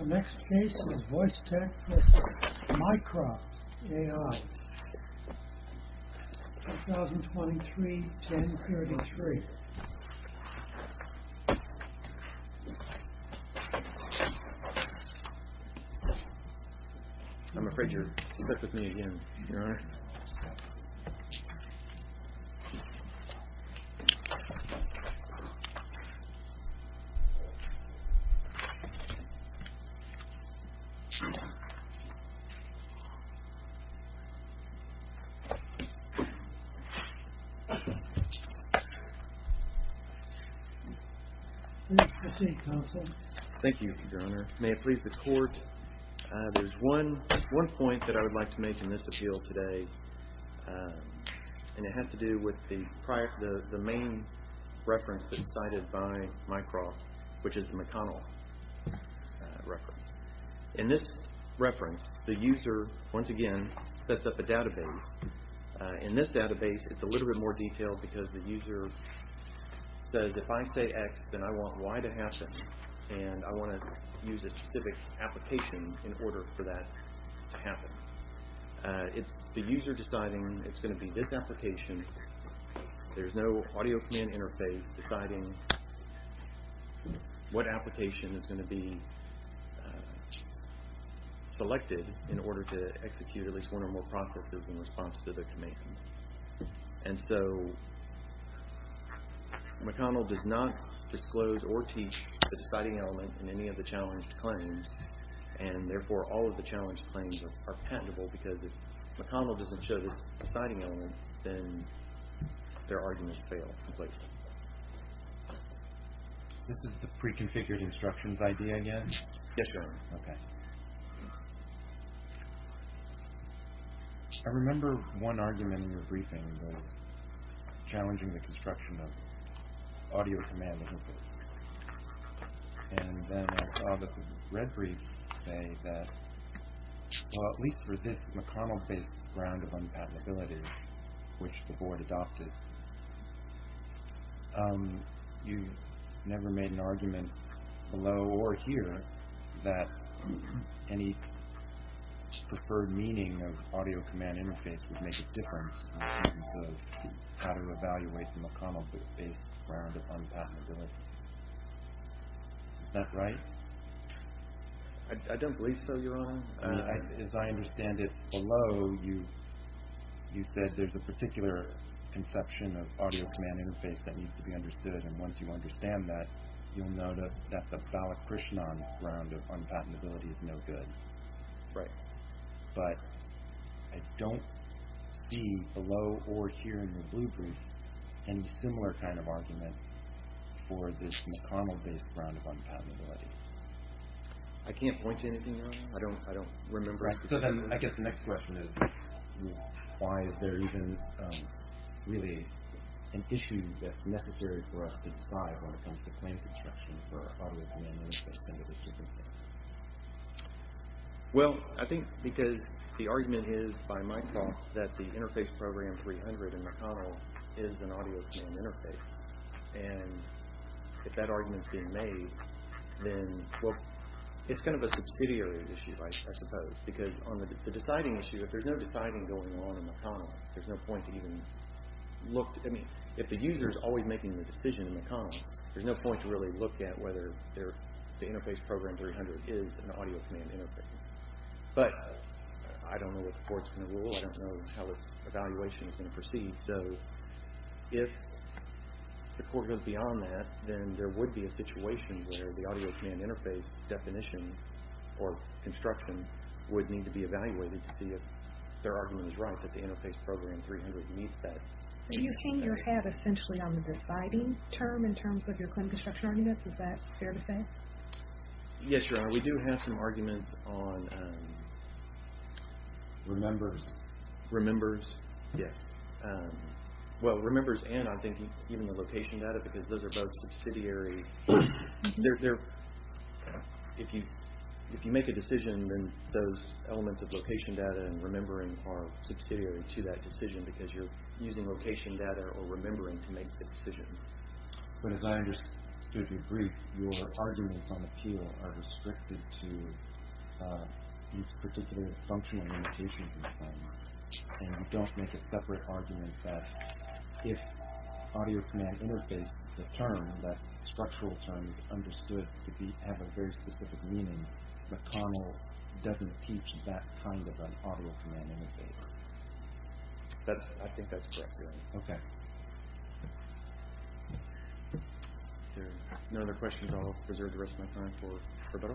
The next case is Voice Tech v. Mycroft AI, 2023-1033. May it please the Court, there is one point that I would like to make in this appeal today and it has to do with the main reference that is cited by Mycroft, which is McConnell. In this reference, the user, once again, sets up a database. In this database, it's a little bit more detailed because the user says, if I say X, then I want Y to happen and I want to use a specific application in order for that to happen. It's the user deciding it's going to be this application. There's no audio command interface deciding what application is going to be selected in order to execute at least one or more processes in response to the command. And so McConnell does not disclose or teach the deciding element in any of the challenged claims and therefore all of the challenged claims are patentable because if McConnell doesn't show this deciding element, then their arguments fail completely. This is the pre-configured instructions idea again? Yes, Your Honor. Okay. I remember one argument in your briefing was challenging the construction of audio command interface. And then I saw that the red brief say that at least for this McConnell-based ground of unpatentability, which the board adopted, you never made an argument below or here that any preferred meaning of audio command interface would make a difference in terms of how to evaluate the McConnell-based ground of unpatentability. Is that right? I don't believe so, Your Honor. As I understand it below, you said there's a particular conception of audio command interface that needs to be understood and once you understand that, you'll know that the Balakrishnan ground of unpatentability is no good. Right. But I don't see below or here in the blue brief any similar kind of argument for this McConnell-based ground of unpatentability. I can't point to anything, Your Honor. I don't remember. So then I guess the next question is why is there even really an issue that's necessary for us to decide when it comes to claim construction for audio command interface under those circumstances? Well, I think because the argument is, by my thoughts, that the Interface Program 300 in McConnell is an audio command interface and if that argument's being made, then, well, it's kind of a subsidiary issue, I suppose, because on the deciding issue, if there's no deciding going on in McConnell, there's no point to even look. I mean, if the user's always making the decision in McConnell, there's no point to really look at whether the Interface Program 300 is an audio command interface. But I don't know what the court's going to rule. I don't know how its evaluation is going to proceed. So if the court goes beyond that, then there would be a situation where the audio command interface definition or construction would need to be evaluated to see if their argument is right that the Interface Program 300 meets that. Are you hanging your hat essentially on the deciding term in terms of your claim construction arguments? Is that fair to say? Yes, Your Honor. We do have some arguments on remembers. Remembers? Yes. Well, remembers and I think even the location data, because those are both subsidiary. If you make a decision, then those elements of location data and remembering are subsidiary to that decision because you're using location data or remembering to make the decision. But as I understood your brief, your arguments on appeal are restricted to these particular functional limitations and you don't make a separate argument that if audio command interface, the term, that structural term understood to have a very specific meaning, McConnell doesn't teach that kind of an audio command interface. I think that's correct, Your Honor. Okay. If there are no other questions, I'll reserve the rest of my time for Roberto.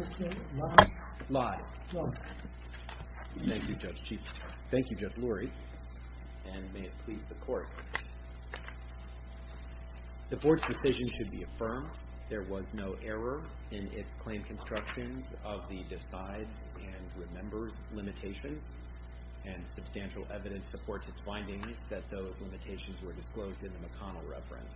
Is it okay, live? Live. Thank you, Judge Chief. Thank you, Judge Lurie. And may it please the Court. The Board's decision should be affirmed. There was no error in its claim constructions of the decides and remembers limitations and substantial evidence supports its findings that those limitations were disclosed in the McConnell reference.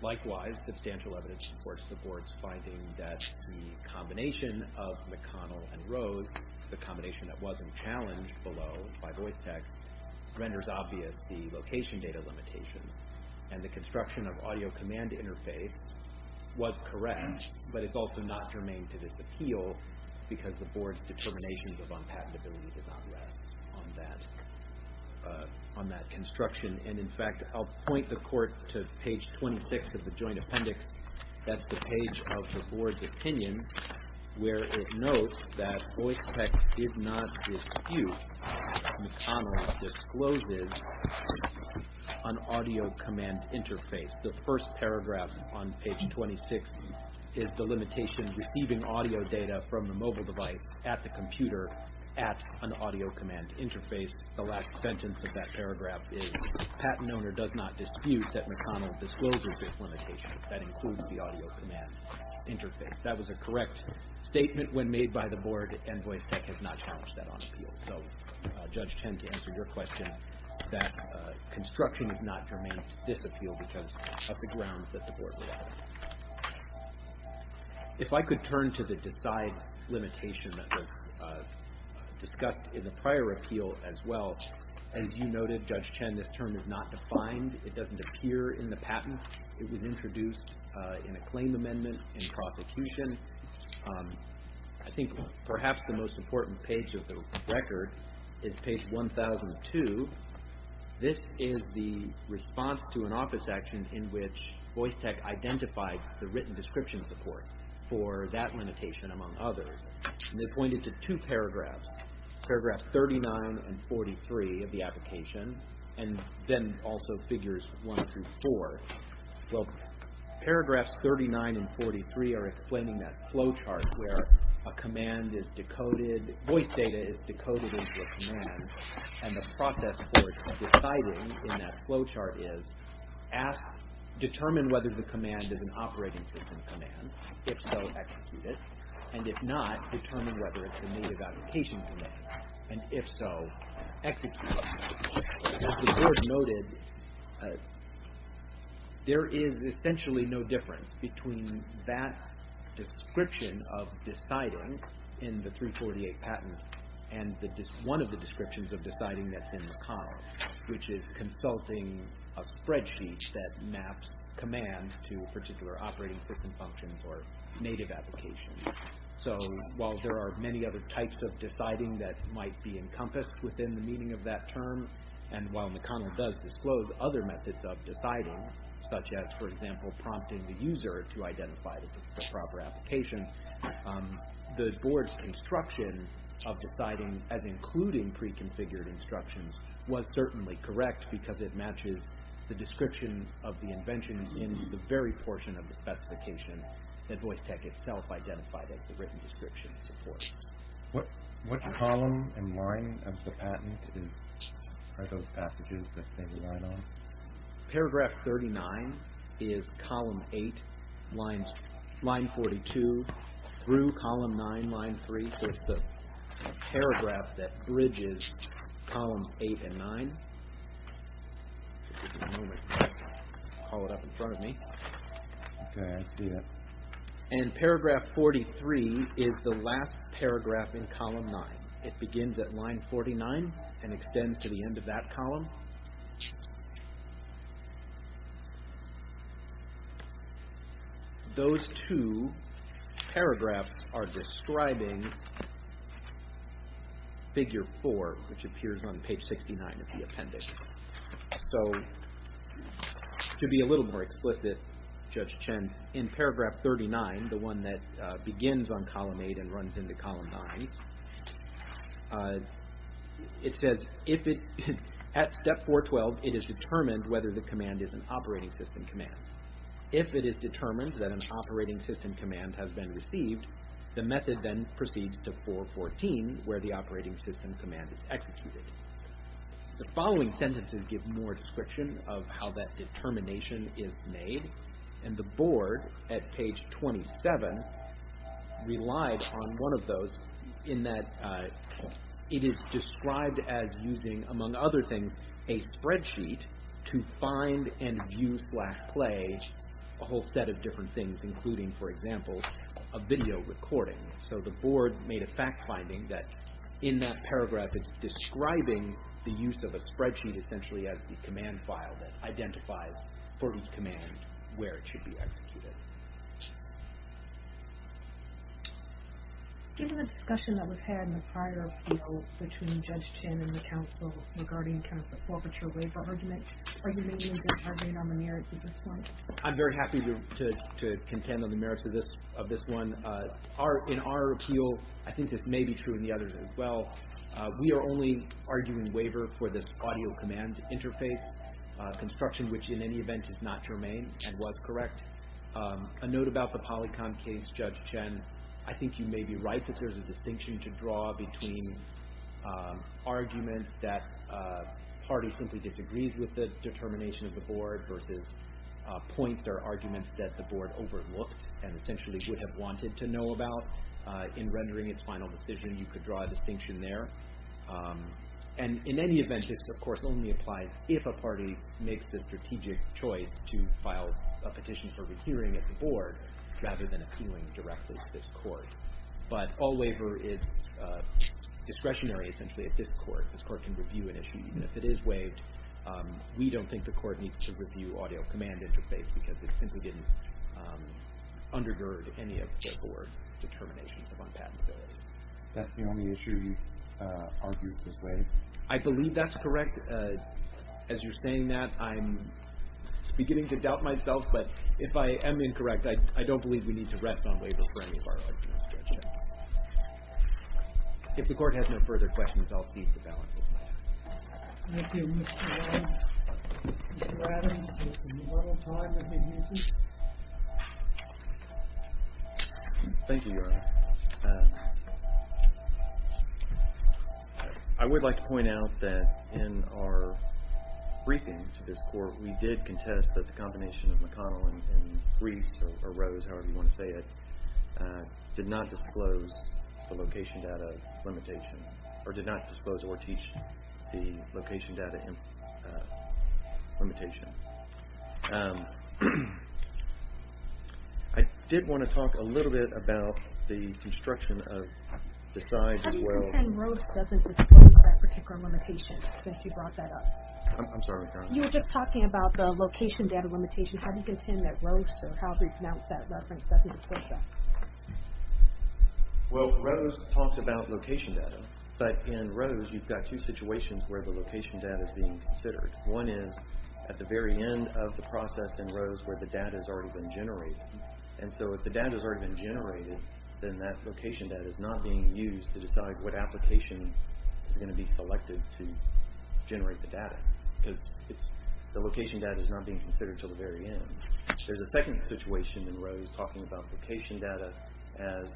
Likewise, substantial evidence supports the Board's finding that the combination of McConnell and Rose, the combination that wasn't challenged below by voice tech, renders obvious the location data limitations. And the construction of audio command interface was correct, but it's also not germane to this appeal because the Board's determination of unpatentability does not rest on that construction. And, in fact, I'll point the Court to page 26 of the joint appendix. That's the page of the Board's opinion where it notes that voice tech did not dispute McConnell's discloses on audio command interface. The first paragraph on page 26 is the limitation receiving audio data from the mobile device at the computer at an audio command interface. The last sentence of that paragraph is, Patent owner does not dispute that McConnell discloses this limitation. That includes the audio command interface. That was a correct statement when made by the Board, and voice tech has not challenged that on appeal. So, Judge Tend, to answer your question, that construction is not germane to this appeal because of the grounds that the Board refers to. If I could turn to the decide limitation that was discussed in the prior appeal as well. As you noted, Judge Tend, this term is not defined. It doesn't appear in the patent. It was introduced in a claim amendment in prosecution. I think perhaps the most important page of the record is page 1002. This is the response to an office action in which voice tech identified the written description support for that limitation among others. They pointed to two paragraphs, paragraph 39 and 43 of the application, and then also figures 1 through 4. Well, paragraphs 39 and 43 are explaining that flow chart where a command is decoded, voice data is decoded into a command, and the process for deciding in that flow chart is determine whether the command is an operating system command. If so, execute it. And if not, determine whether it's a native application command. And if so, execute it. As the Board noted, there is essentially no difference between that description of deciding in the 348 patent and one of the descriptions of deciding that's in the con, which is consulting a spreadsheet that maps commands to a particular operating system function or native application. So while there are many other types of deciding that might be encompassed within the meaning of that term, and while McConnell does disclose other methods of deciding, such as, for example, prompting the user to identify the proper application, the Board's instruction of deciding as including pre-configured instructions was certainly correct because it matches the description of the invention in the very portion of the specification that voice tech itself identified as the written description support. What column and line of the patent are those passages that they rely on? Paragraph 39 is column 8, line 42, through column 9, line 3. So it's the paragraph that bridges columns 8 and 9. I'll call it up in front of me. Okay, I see that. And paragraph 43 is the last paragraph in column 9. It begins at line 49 and extends to the end of that column. Those two paragraphs are describing figure 4, which appears on page 69 of the appendix. So to be a little more explicit, Judge Chen, in paragraph 39, the one that begins on column 8 and runs into column 9, it says, at step 412, it is determined whether the command is an operating system command. If it is determined that an operating system command has been received, the method then proceeds to 414, where the operating system command is executed. The following sentences give more description of how that determination is made. And the Board, at page 27, relied on one of those, in that it is described as using, among other things, a spreadsheet to find and view slash play a whole set of different things, including, for example, a video recording. So the Board made a fact finding that, in that paragraph, it's describing the use of a spreadsheet essentially as the command file that identifies for each command where it should be executed. Given the discussion that was had in the prior appeal between Judge Chen and the counsel regarding the forfeiture waiver argument, are you making a different argument on the merits at this point? I'm very happy to contend on the merits of this one. In our appeal, I think this may be true in the others as well, we are only arguing waiver for this audio command interface construction, which in any event is not germane and was correct. A note about the Polycom case, Judge Chen, I think you may be right that there's a distinction to draw between arguments that a party simply disagrees with the determination of the Board versus points or arguments that the Board overlooked and essentially would have wanted to know about. In rendering its final decision, you could draw a distinction there. And in any event, this of course only applies if a party makes the strategic choice to file a petition for rehearing at the Board rather than appealing directly to this Court. But all waiver is discretionary essentially at this Court. This Court can review an issue even if it is waived. We don't think the Court needs to review audio command interface because it simply didn't undergird any of the Board's determination of unpatentability. That's the only issue you've argued this way? I believe that's correct. As you're saying that, I'm beginning to doubt myself, but if I am incorrect, I don't believe we need to rest on waiver for any of our arguments, Judge Chen. If the Court has no further questions, I'll cede the balance of my time. Thank you, Mr. Adams. Mr. Adams, just a little time if you'd use it. Thank you, Your Honor. I would like to point out that in our briefing to this Court, we did contest that the combination of McConnell and Briefs or Rose, however you want to say it, did not disclose the location data limitation or did not disclose or teach the location data limitation. I did want to talk a little bit about the construction of decides as well. How do you contend Rose doesn't disclose that particular limitation since you brought that up? I'm sorry, Your Honor. You were just talking about the location data limitation. How do you contend that Rose or however you pronounce that reference doesn't disclose that? Well, Rose talks about location data, but in Rose you've got two situations where the location data is being considered. One is at the very end of the process in Rose where the data has already been generated. And so if the data has already been generated, then that location data is not being used to decide what application is going to be selected to generate the data because the location data is not being considered until the very end. There's a second situation in Rose talking about location data as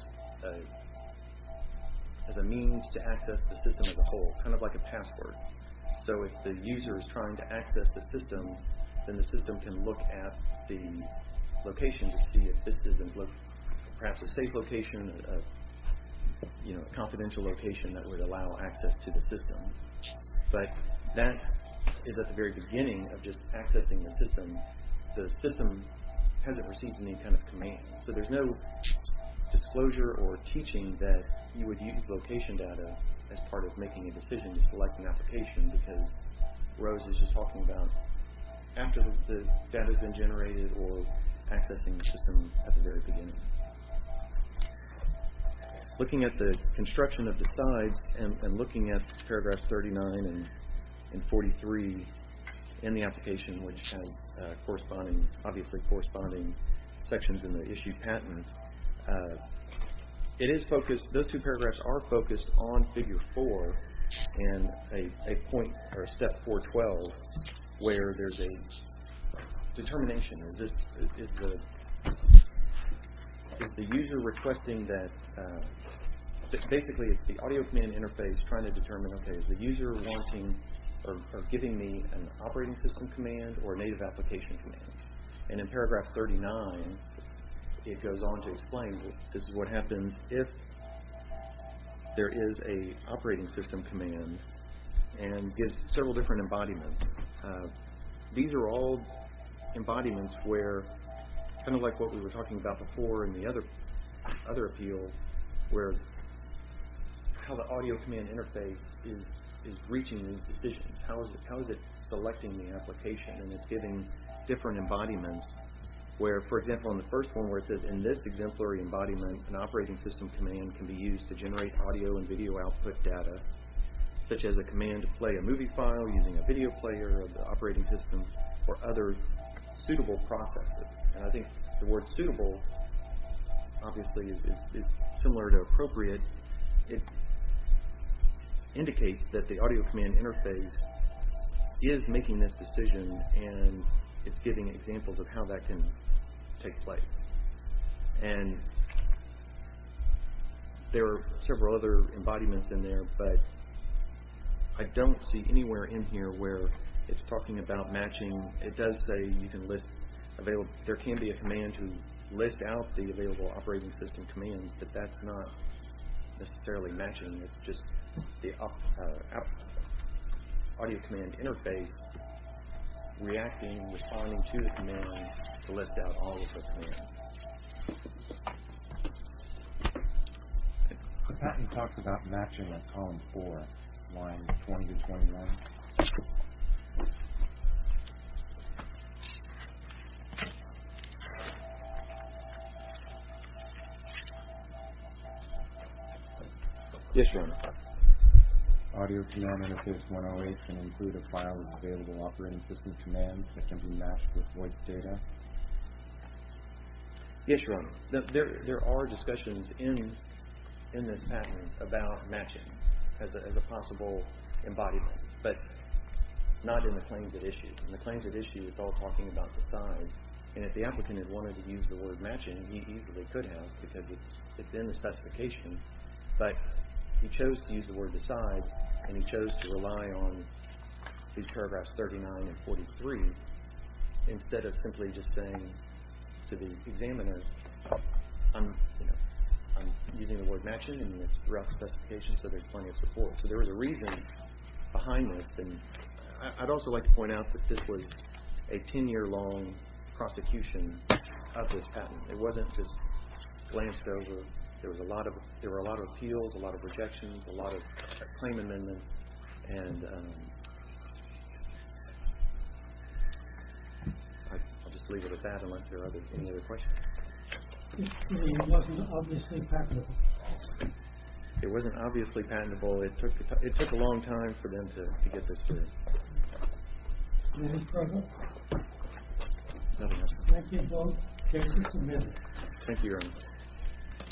a means to access the system as a whole, kind of like a password. So if the user is trying to access the system, then the system can look at the location to see if this is perhaps a safe location, a confidential location that would allow access to the system. But that is at the very beginning of just accessing the system. The system hasn't received any kind of command. So there's no disclosure or teaching that you would use location data as part of making a decision to select an application because Rose is just talking about after the data has been generated or accessing the system at the very beginning. Looking at the construction of the sides and looking at paragraphs 39 and 43 in the application, which has obviously corresponding sections in the issued patent, those two paragraphs are focused on figure four and a step 412 where there's a determination. This is the user requesting that, basically it's the audio command interface trying to determine, okay, is the user wanting or giving me an operating system command or a native application command? And in paragraph 39, it goes on to explain this is what happens if there is a operating system command and gives several different embodiments. These are all embodiments where, kind of like what we were talking about before in the other appeal, where how the audio command interface is reaching a decision. How is it selecting the application and it's giving different embodiments where, for example, in the first one where it says, in this exemplary embodiment, an operating system command can be used to generate audio and video output data, such as a command to play a movie file using a video player of the operating system or other suitable processes. And I think the word suitable obviously is similar to appropriate. It indicates that the audio command interface is making this decision and it's giving examples of how that can take place. And there are several other embodiments in there, but I don't see anywhere in here where it's talking about matching. It does say you can list available. There can be a command to list out the available operating system commands, but that's not necessarily matching. It's just the audio command interface reacting, responding to the command to list out all of the commands. The patent talks about matching at column four, lines 20 to 21. Yes, sir. Audio command interface 108 can include a file of available operating system commands that can be matched with voice data. Yes, Your Honor. There are discussions in this patent about matching as a possible embodiment, but not in the claims at issue. In the claims at issue, it's all talking about the size. And if the applicant had wanted to use the word matching, he easily could have because it's in the specification. But he chose to use the word the size and he chose to rely on these paragraphs 39 and 43 instead of simply just saying to the examiner, I'm using the word matching and it's rough specification, so there's plenty of support. So there is a reason behind this. And I'd also like to point out that this was a 10-year-long prosecution of this patent. It wasn't just glanced over. There were a lot of appeals, a lot of rejections, a lot of claim amendments. And I'll just leave it at that unless there are any other questions. This patent wasn't obviously patentable. It wasn't obviously patentable. It took a long time for them to get this through. Any further? Nothing else, Your Honor. Thank you both. Case is submitted. Thank you, Your Honor.